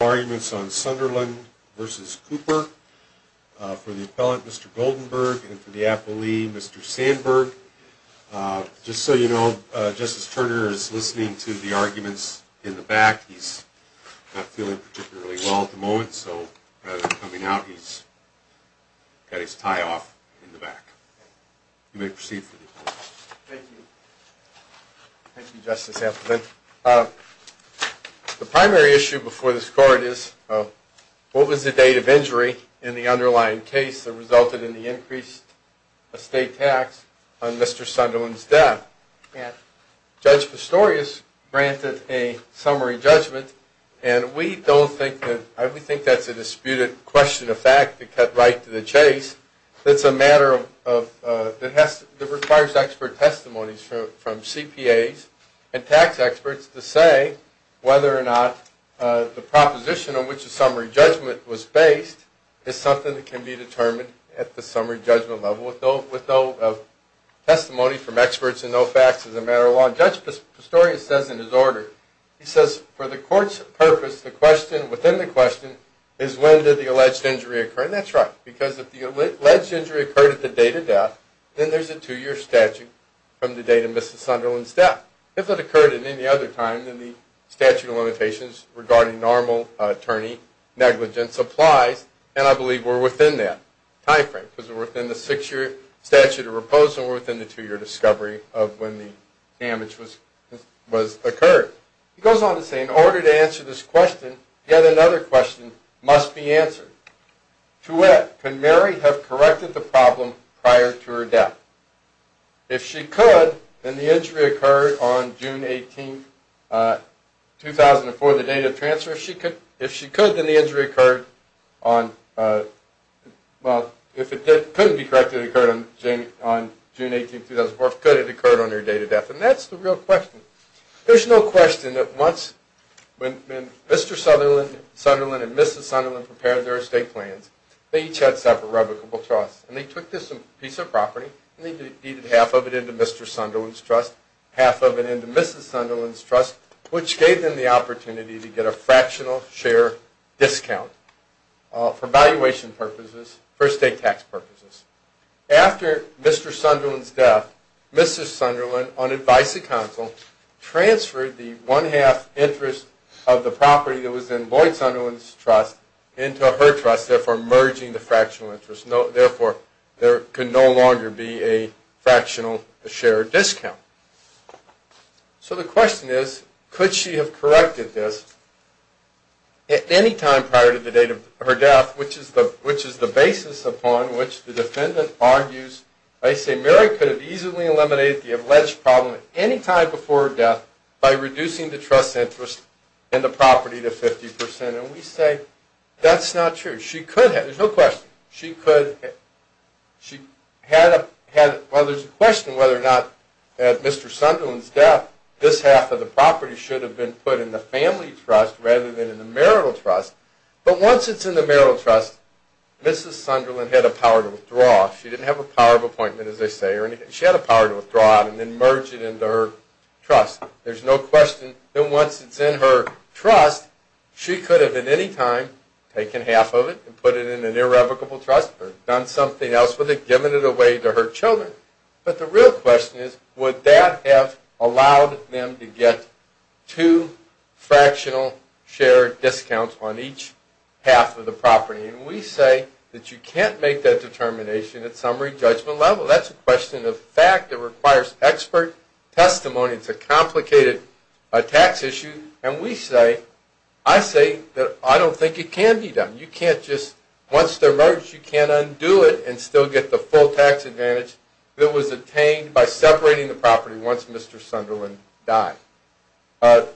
for the appellant, Mr. Goldenberg, and for the appellee, Mr. Sandberg. Just so you know, Justice Turner is listening to the arguments in the back. He's not feeling particularly well at the moment, so rather than coming out, he's got his tie-off in the back. You may proceed for the appellant. Thank you. Thank you, Justice Appleton. The primary issue before this Court is, what was the date of injury in the underlying case that resulted in the increased estate tax on Mr. Sunderland's death? Judge Pistorius granted a summary judgment, and we don't think that, we think that's a disputed question of fact that cut right to the chase. It's a matter of, it requires expert testimonies from CPAs and tax experts to say whether or not the proposition on which the summary judgment was based is something that can be determined at the summary judgment level with no testimony from experts and no facts as a matter of law. Judge Pistorius says in his order, he says, for the Court's purpose, the question within the question is when did the alleged injury occur? And that's right, because if the alleged injury occurred at the date of death, then there's a two-year statute from the date of Mr. Sunderland's death. If it occurred at any other time, then the statute of limitations regarding normal attorney negligence applies, and I believe we're within that time frame, because we're within the six-year statute of repose and we're within the two-year discovery of when the damage was the answer. To it, can Mary have corrected the problem prior to her death? If she could, then the injury occurred on June 18, 2004, the date of transfer. If she could, then the injury occurred on, well, if it couldn't be corrected, it occurred on June 18, 2004, could it have occurred on her date of death? And that's the real question. There's no question that when Mr. Sunderland and Mrs. Sunderland prepared their estate plans, they each had separate revocable trusts, and they took this piece of property and they deeded half of it into Mr. Sunderland's trust, half of it into Mrs. Sunderland's trust, which gave them the opportunity to get a fractional share discount for valuation purposes, for estate tax purposes. After Mr. Sunderland's death, Mrs. Sunderland, on advice of counsel, transferred the one-half interest of the property that was in Lloyd Sunderland's trust into her trust, therefore merging the fractional interest. Therefore, there could no longer be a fractional share discount. So the question is, could she have corrected this at any time prior to the date of her death, which is the basis upon which the defendant argues, I say, Mary could have easily eliminated the alleged problem at any time before her death by reducing the trust interest in the property to 50%. And we say, that's not true. She could have, there's no question, she could, she had, well there's a question whether or not at Mr. Sunderland's death, this half of the property should have been put in the family trust rather than in the marital trust. But once it's in the marital trust, Mrs. Sunderland had a power to withdraw. She didn't have a power of appointment, as they say, she had a power to withdraw it and then merge it into her trust. There's no question that once it's in her trust, she could have at any time taken half of it and put it in an irrevocable trust, or done something else with it, given it away to her children. But the real question is, would that have allowed them to get two fractional share discounts on each half of the property? And we say that you can't make that determination at summary judgment level. That's a question of fact. It requires expert testimony. It's a complicated tax issue. And we say, I say that I don't think it can be done. You can't just, once they're merged, you can't undo it and still get the full tax advantage that was obtained by separating the property once Mr. Sunderland died. As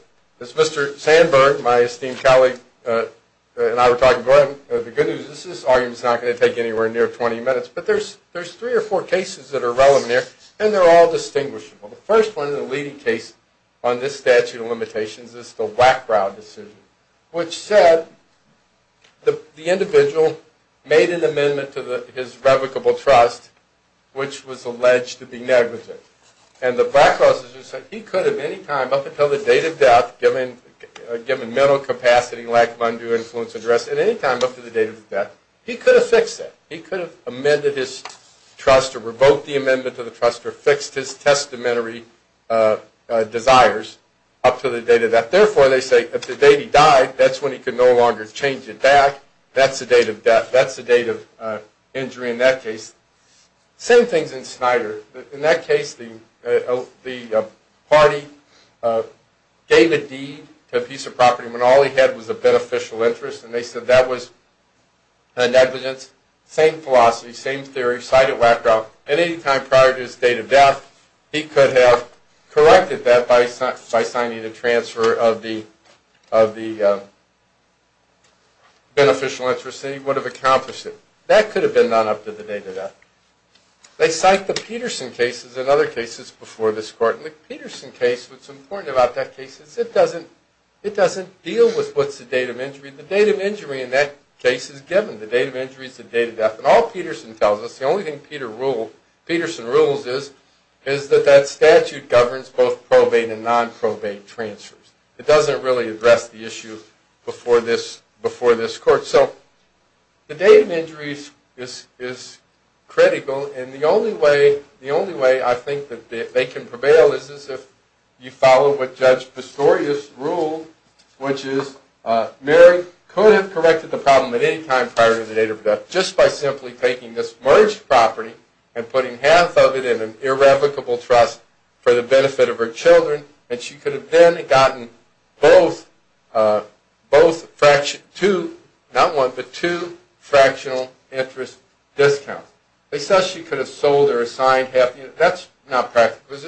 Mr. Sandberg, my esteemed colleague, and I were talking about in the good news, this argument's not going to take anywhere near 20 minutes, but there's three or four cases that are relevant here, and they're all distinguishable. The first one is a leading case on this statute of limitations, it's the Blackrow decision, which said the individual made an amendment to his revocable trust, which was alleged to be negligent. And the Blackrow decision said he could have any time, up until the date of death, given mental capacity, lack of undue influence, or duress, at any time up to the date of his death, he could have fixed that. He could have amended his trust, or revoked the amendment to the trust, or fixed his testamentary desires up to the date of death. Therefore, they say, if the date he died, that's when he could no longer change it back, that's the date of death, that's the date of injury in that case. Same things in Snyder. In that case, the party gave a deed to a piece of property when all he had was a beneficial interest, and they said that was the date of death, he could have corrected that by signing a transfer of the beneficial interest, and he would have accomplished it. That could have been done up to the date of death. They cite the Peterson cases and other cases before this Court, and the Peterson case, what's important about that case is it doesn't deal with what's the date of injury. The date of injury in that case is given. The date of injury is the date of death. All Peterson tells us, the only thing Peterson rules is that that statute governs both probate and non-probate transfers. It doesn't really address the issue before this Court. The date of injury is critical, and the only way I think they can prevail is if you follow what Judge Pistorius ruled, which is Mary could have corrected the problem at any time prior to the date of death just by simply taking this merged property and putting half of it in an irrevocable trust for the benefit of her children, and she could have then gotten two fractional interest discounts. They said she could have sold or signed half of it. That's not fair. We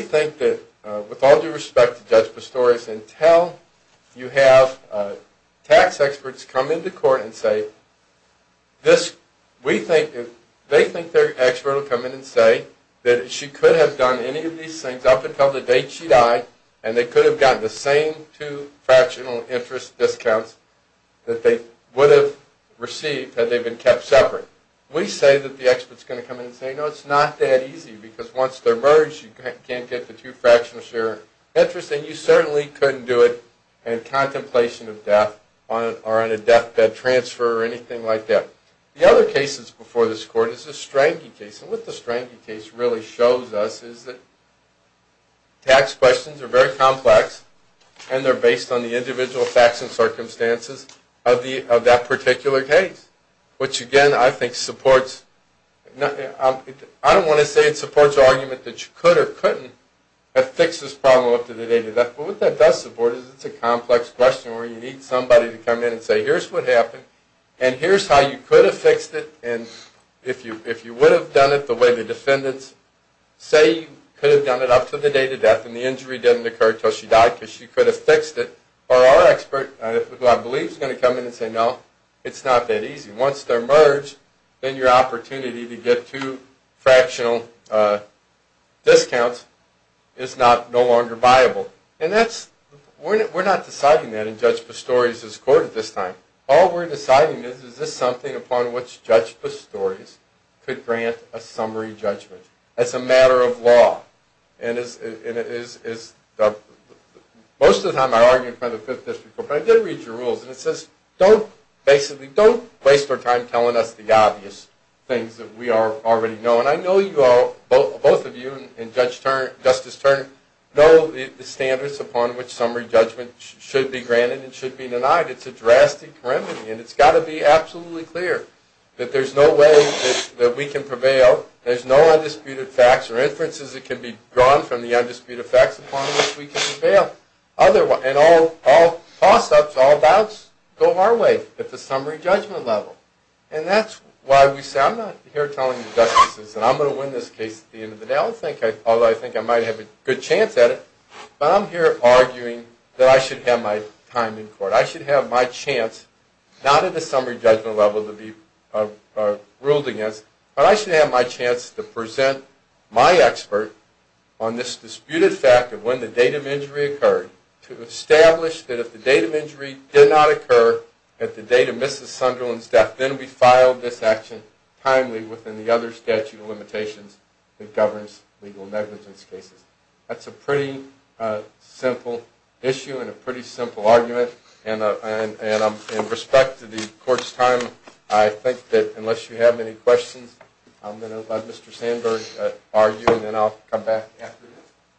think that with all due respect to Judge Pistorius, until you have tax experts come into Court and say they think their expert will come in and say that she could have done any of these things up until the date she died, and they could have gotten the same two fractional interest discounts that they would have received had they been kept separate. We say that the expert is going to come in and say, no, it's not that easy, because once they're merged, you can't get the two fractional share interest, and you certainly couldn't do it in contemplation of death or on a deathbed transfer or anything like that. The other cases before this Court is the Strangie case, and what the Strangie case really shows us is that tax questions are very complex, and they're based on the individual facts and circumstances of that particular case, which again I think supports... I don't want to say it supports the argument that you could or couldn't have fixed this problem up to the date of death, but what that does support is it's a complex question where you need somebody to come in and say, here's what happened, and here's how you could have fixed it, and if you would have done it the way the defendants say you could have done it up to the date of death and the injury didn't occur until she died because she could have fixed it, or our expert, who I believe is going to come in and say, no, it's not that easy. Once they're merged, then your opportunity to get two fractional discounts is no longer viable, and that's... we're not deciding that in Judge Pastore's Court at this time. All we're deciding is, is this something upon which Judge Pastore could grant a summary judgment? That's a matter of law, and it is... most of the time I argue in front of the Fifth District Court, but I did read your rules, and it says, don't basically... don't waste our time telling us the obvious things that we already know, and I know you all, both of you and Justice Turner, know the standards upon which there's no way that we can prevail, there's no undisputed facts or inferences that can be drawn from the undisputed facts upon which we can prevail. And all toss-ups, all doubts go our way at the summary judgment level, and that's why we say I'm not here telling the justices that I'm going to win this case at the end of the day, although I think I might have a good chance at it, but I'm here arguing that I should have my time in court. I should have my chance, not at the summary judgment level to be ruled against, but I should have my chance to present my expert on this disputed fact of when the date of injury occurred to establish that if the date of injury did not occur at the date of Mrs. Sunderland's death, then we filed this action timely within the other statute of limitations that governs legal negligence cases. That's a pretty simple issue and a pretty simple argument, and in respect to the court's time, I think that unless you have any questions, I'm going to let Mr. Sandberg argue, and then I'll come back after that.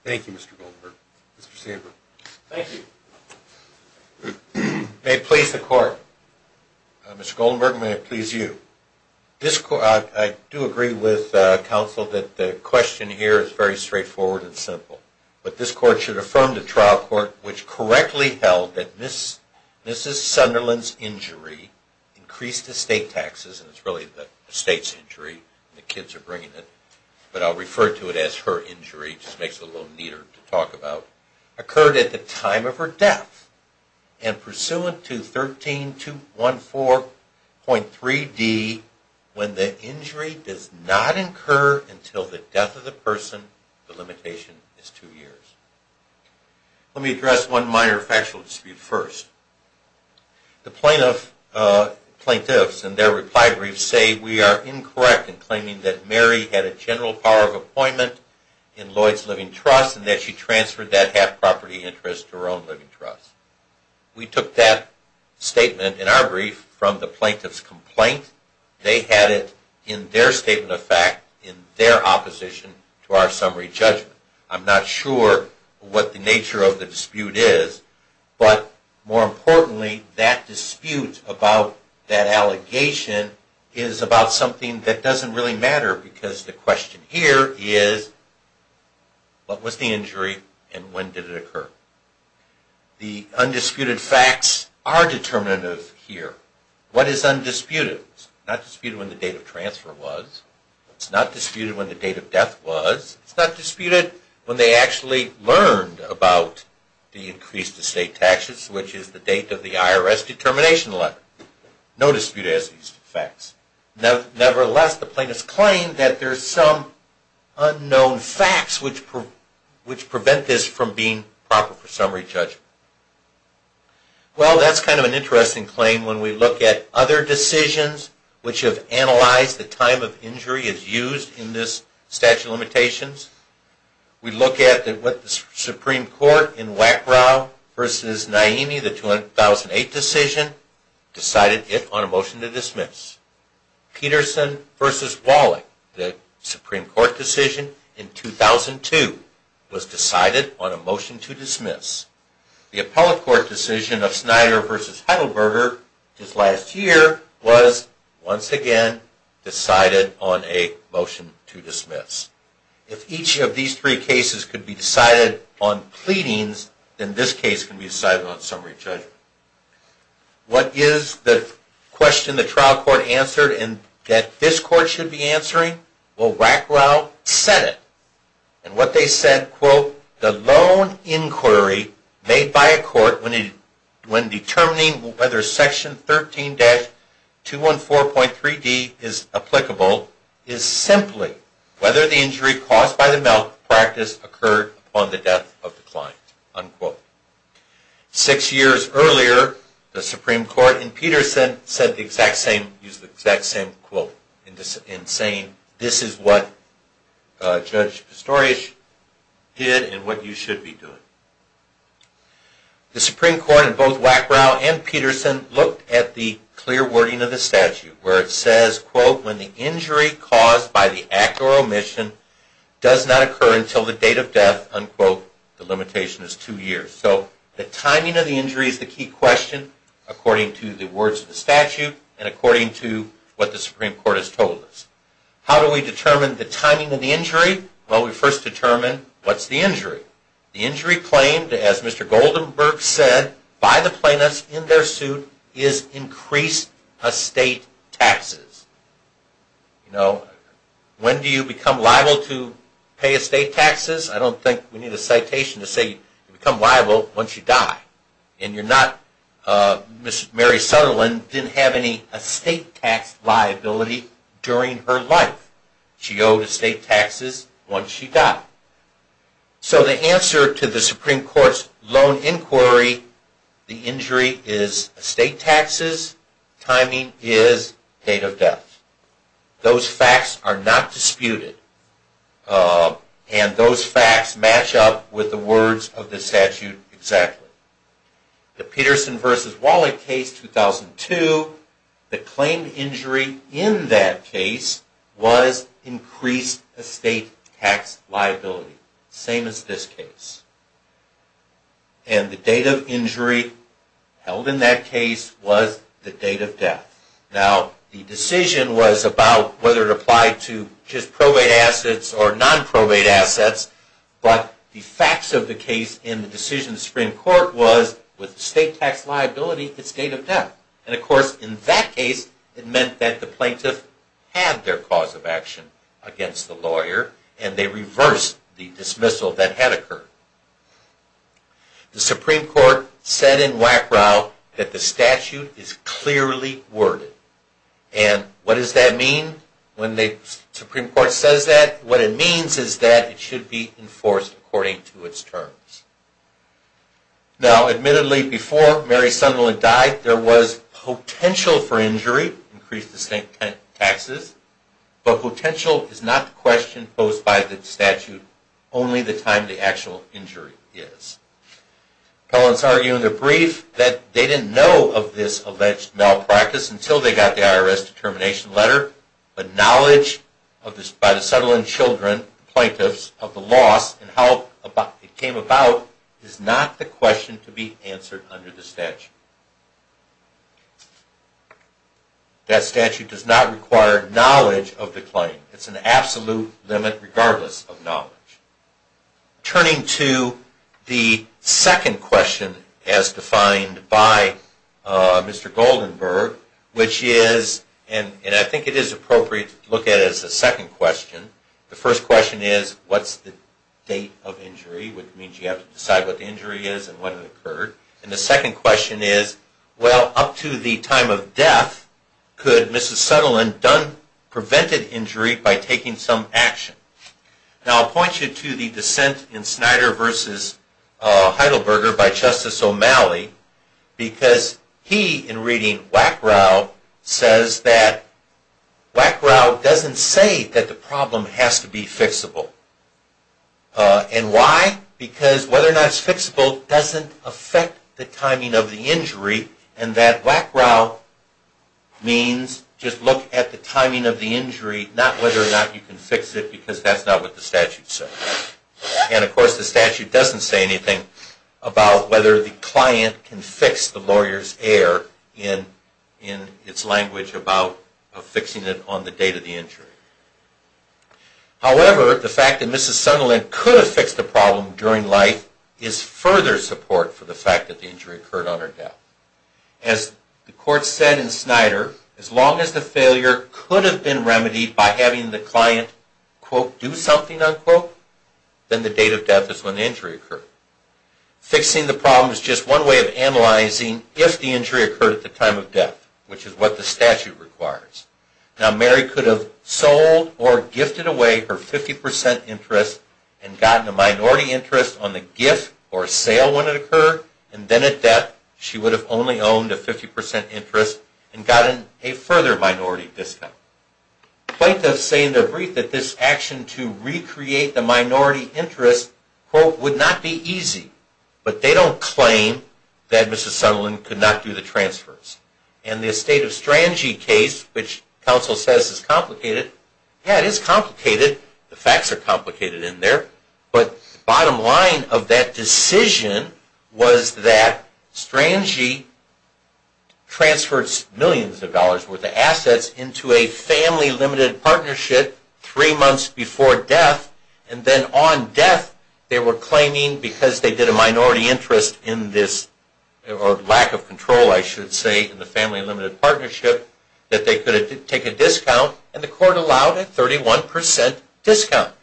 Thank you, Mr. Goldenberg. Mr. Sandberg. Thank you. May it please the court. Mr. Goldenberg, may it please you. I do agree with counsel that the question here is very straightforward and simple, but this court should affirm the trial court which correctly held that Mrs. Sunderland's injury, increased estate taxes, and it's really the estate's injury, the kids are bringing it, but I'll refer to it as her injury, just makes it a little neater to talk about, occurred at the time of her death, and pursuant to 13214.3d, when the injury does not incur until the death of the person, the limitation is two years. Let me address one minor factual dispute first. The plaintiffs and their reply briefs say we are incorrect in claiming that Mrs. Sunderland did not have property interest to her own living trust. We took that statement in our brief from the plaintiff's complaint. They had it in their statement of fact in their opposition to our summary judgment. I'm not sure what the nature of the dispute is, but more importantly, that dispute about that allegation is about something that doesn't really matter because the question here is what was the injury and when did it occur? The undisputed facts are determinative here. What is undisputed? It's not disputed when the date of transfer was. It's not disputed when the date of death was. It's not disputed when they actually learned about the increased estate taxes, which is the date of the IRS determination letter. No dispute as these facts. Nevertheless, the plaintiffs claim that there are some unknown facts which prevent this from being proper for summary judgment. Well, that's kind of an interesting claim when we look at other decisions which have analyzed the time of injury as used in this statute of limitations. We look at what the Supreme Court in Wackrow v. Naimi, the 2008 decision, decided on a motion to dismiss. Peterson v. Wallach, the Supreme Court decision in 2002, was decided on a motion to dismiss. The Appellate Court decision of Snyder v. Heidelberger this last year was once again decided on a motion to dismiss. If each of these three cases could be decided on pleadings, then this case can be decided on summary judgment. What is the question the trial court answered and that this court should be answering? Well, Wackrow said it. And what they said, quote, the lone inquiry made by a court when determining whether Section 13-214.3d is applicable is simply whether the injury caused by the malpractice occurred upon the death of the client, unquote. Six years earlier, the Supreme Court and Peterson used the exact same quote in saying this is what Judge Pistorius did and what you should be doing. The Supreme Court in both Wackrow and Peterson looked at the clear wording of the statute where it says, quote, when the injury caused by the act or omission does not occur until the date of death, unquote, the limitation is two years. So the timing of the injury is the key question according to the words of the statute and according to what the Supreme Court has told us. How do we determine the timing of the injury? Well, we first determine what's the injury. The injury claimed as Mr. Goldenberg said by the plaintiffs in their suit is increased estate taxes. You know, when do you become liable to pay estate taxes? I don't think we need a citation to say you become liable once you die. And you're not, Mrs. Mary Sutherland didn't have any estate tax liability during her life. She owed estate taxes once she died. So the answer to the Supreme Court's lone inquiry, the injury is estate taxes, timing is date of death. Those facts are not disputed. And those facts match up with the words of the statute. Number two, the claimed injury in that case was increased estate tax liability. Same as this case. And the date of injury held in that case was the date of death. Now, the decision was about whether it applied to just probate assets or non-probate assets, but the facts of the case in the decision of the Supreme Court was with estate tax liability, it's date of death. And of course, in that case, it meant that the plaintiff had their cause of action against the lawyer, and they reversed the dismissal that had occurred. The Supreme Court said in Wackrow that the statute is clearly worded. And what does that mean when the Supreme Court says that? What it means is that it should be enforced according to its terms. Now, admittedly, before Mary Sunderland died, there was potential for injury, increased estate taxes, but potential is not the question posed by the statute, only the time the actual injury is. Appellants argue in their brief that they didn't know of this alleged malpractice until they got the IRS determination letter, but knowledge by the Sutherland children, the plaintiffs, of the loss and how it came about is not the question to be answered under the statute. That statute does not require knowledge of the claim. It's an absolute limit regardless of knowledge. Turning to the second question as defined by Mr. Goldenberg, which is, and I think it is appropriate to look at it as the second question. The first question is, what's the date of injury, which means you have to decide what the injury is and when it occurred. And the second question is, well, up to the time of death, could Mrs. Sutherland done, prevented injury by taking some action? Now I'll point you to the dissent in Snyder v. Heidelberger by Justice O'Malley because he, in reading Wackrow, says that Wackrow doesn't say that the problem has to be fixable. And why? Because whether or not it's fixable doesn't affect the timing of the injury and that whether or not you can fix it because that's not what the statute says. And of course the statute doesn't say anything about whether the client can fix the lawyer's error in its language about fixing it on the date of the injury. However, the fact that Mrs. Sutherland could have fixed the problem during life is further support for the fact that the injury occurred on her death. As the court said in Snyder, as long as the failure could have been remedied by having the client, quote, do something, unquote, then the date of death is when the injury occurred. Fixing the problem is just one way of analyzing if the injury occurred at the time of death, which is what the statute requires. Now Mary could have sold or gifted away her 50% interest and gotten a minority interest on the gift or sale when it occurred, and then at death she would have only owned a 50% interest and gotten a further minority discount. Plaintiffs say in their brief that this action to recreate the minority interest, quote, would not be easy, but they don't claim that Mrs. Sutherland could not do the transfers. And the estate of Strangie case, which counsel says is complicated, yeah, it is complicated, the facts are complicated in there, but the bottom line of that decision was that Strangie transferred millions of dollars worth of assets into a family limited partnership three months before death, and then on death they were claiming because they did a minority interest in this, or lack of control I partnership, that they could take a discount, and the court allowed a 31% discount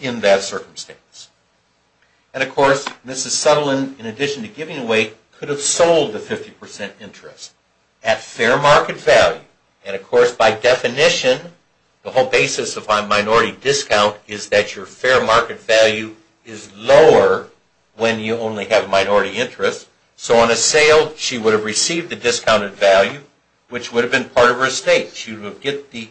in that circumstance. And, of course, Mrs. Sutherland, in addition to giving away, could have sold the 50% interest at fair market value. And, of course, by definition the whole basis of a minority discount is that your fair market value is lower when you only have a fair market value, which would have been part of her estate. She would get the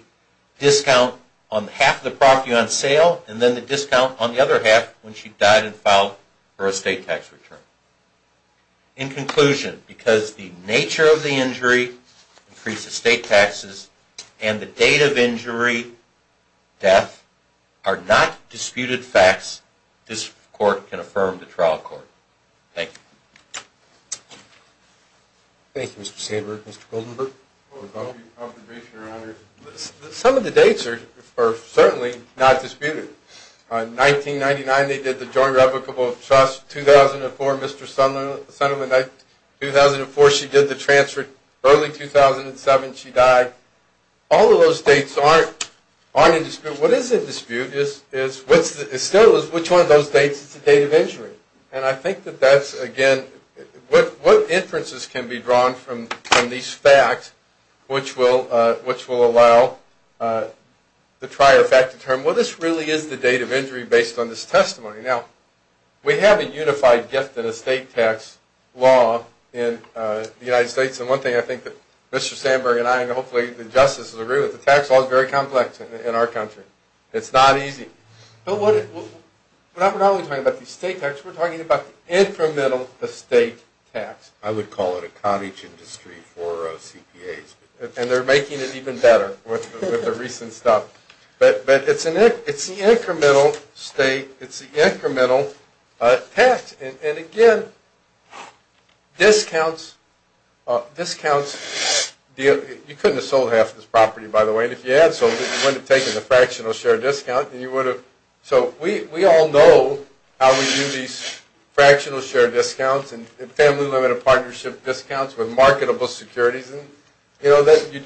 discount on half the property on sale, and then the discount on the other half when she died and filed her estate tax return. In conclusion, because the nature of the injury, increased estate taxes, and the date of injury, death, are not disputed facts, this court can not dispute them. We have a unified gift in estate tax law in the United States, and one thing I think that Mr. Sandberg and I, and hopefully the justices agree with, the tax law is very complex in our country. It's not easy. But we're not only talking about the estate tax, we're talking about the incremental estate tax. I would call it a cottage industry for CPAs, and they're making it even better with the recent stuff. But it's the incremental state, it's the incremental tax. And, again, discounts, you couldn't have sold half this property, by the way, and if you had sold it, you wouldn't have taken the fractional share discount. So we all know how we do these marketable securities.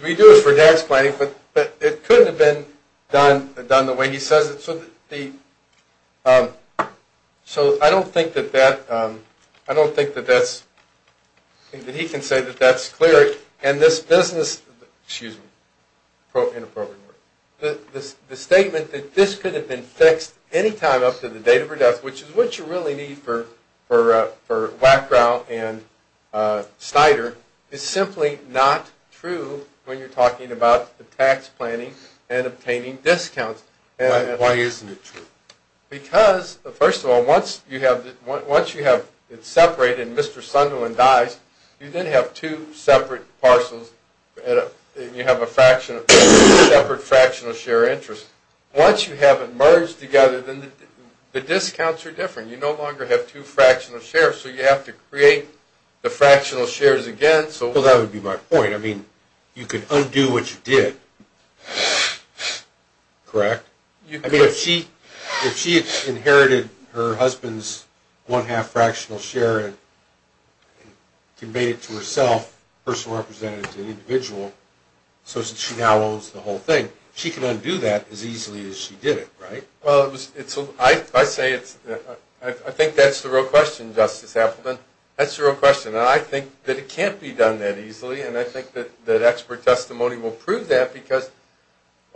We do it for tax planning, but it couldn't have been done the way he says it. So I don't think that he can say that that's clear, and this business, excuse me, inappropriate word, the statement that this could have been fixed any time up to the date of her death, which is what you really need for Wackrow and Snyder, is simply not true when you're talking about the tax planning and obtaining discounts. Why isn't it true? Because, first of all, once you have it separated and Mr. Sunderland dies, you then have two separate parcels, and you have a separate fractional share interest. Once you have it merged together, then the discounts are different. You no longer have two fractional shares, so you have to create the fractional shares again. Well, that would be my point. I mean, you could undo what you did, correct? I mean, if she inherited her husband's one-half fractional share and made it to herself, personal representative to the individual, so that she now owns the whole thing, she can undo that as easily as she did it, right? I think that's the real question, Justice Appleton. That's the real question, and I think that it can't be done that easily, and I think that expert testimony will prove that, because,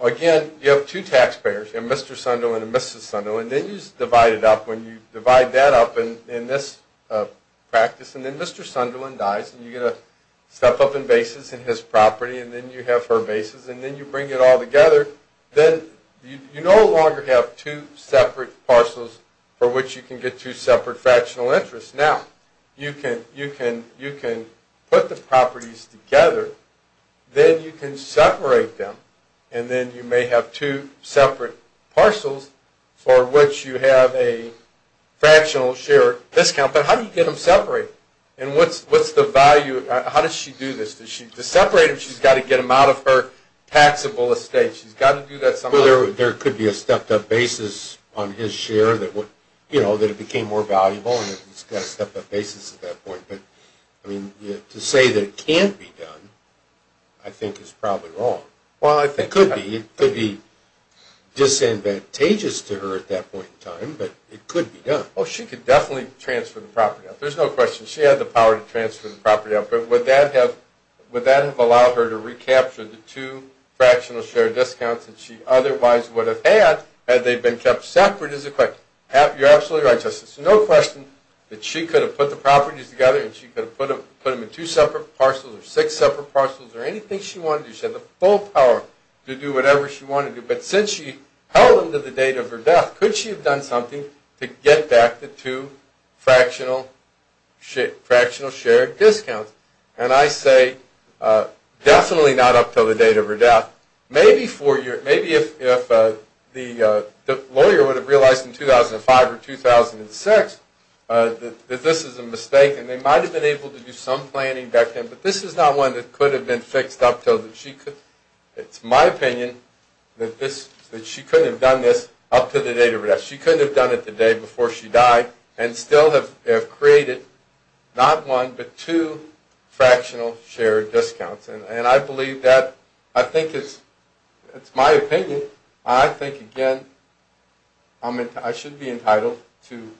again, you have two taxpayers, a Mr. Sunderland and a Mrs. Sunderland, and then you just divide it up. When you step up in basis in his property, and then you have her basis, and then you bring it all together, then you no longer have two separate parcels for which you can get two separate fractional interests. Now, you can put the properties together, then you can separate them, and then you may have two separate parcels for which you have a fractional share discount, but how do you get them separated? And what's the value? How does she do this? To separate them, she's got to get them out of her taxable estate. She's got to do that somehow. Well, there could be a stepped-up basis on his share that would, you know, that it became more valuable, and it's got a stepped-up basis at that point, but, I mean, to say that it can't be done, I think is probably wrong. It could be. It could be disadvantageous to her at that point in time, but it could be done. Oh, she could definitely transfer the property out. There's no question. She had the power to transfer the property out, but would that have allowed her to recapture the two fractional share discounts that she otherwise would have had had they been kept separate? You're absolutely right, Justice. There's no question that she could have put the properties together, and she could have put them in two separate parcels or six separate parcels or anything she wanted to do. She had the full power to do whatever she wanted to do, but since she held them to the date of her death, could she have done something to get back the two fractional share discounts? And I say definitely not up to the date of her death. Maybe if the lawyer would have realized in 2005 or 2006 that this is a mistake, and they might have been able to do some planning back then, but this is not one that could have been fixed up until she could. It's my opinion that she couldn't have done this up to the date of her death. She couldn't have done it the day before she died and still have created not one, but two fractional share discounts. And I believe that. I think it's my opinion. I think, again, I should be entitled to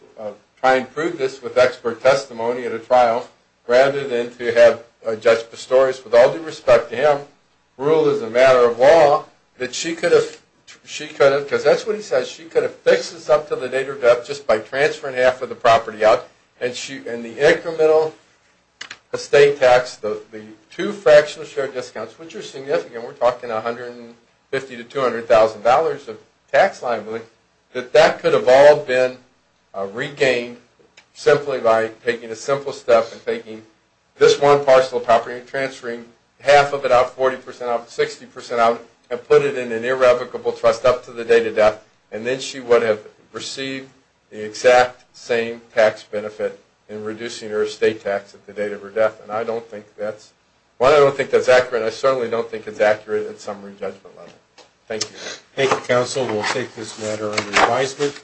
try and prove this with expert testimony at a trial rather than to have Judge Pistorius, with all due respect to him, rule as a matter of law that she could have, because that's what he says, she could have fixed this up to the date of her death just by transferring half of the property out, and the incremental estate tax, the two fractional share discounts, which are that that could have all been regained simply by taking a simple step and taking this one parcel of property and transferring half of it out, 40% out, 60% out, and put it in an irrevocable trust up to the date of death. And then she would have received the exact same tax benefit in reducing her estate tax at the date of her death. And I don't think that's, while I don't think that's accurate, I certainly don't think it's a matter of advisement.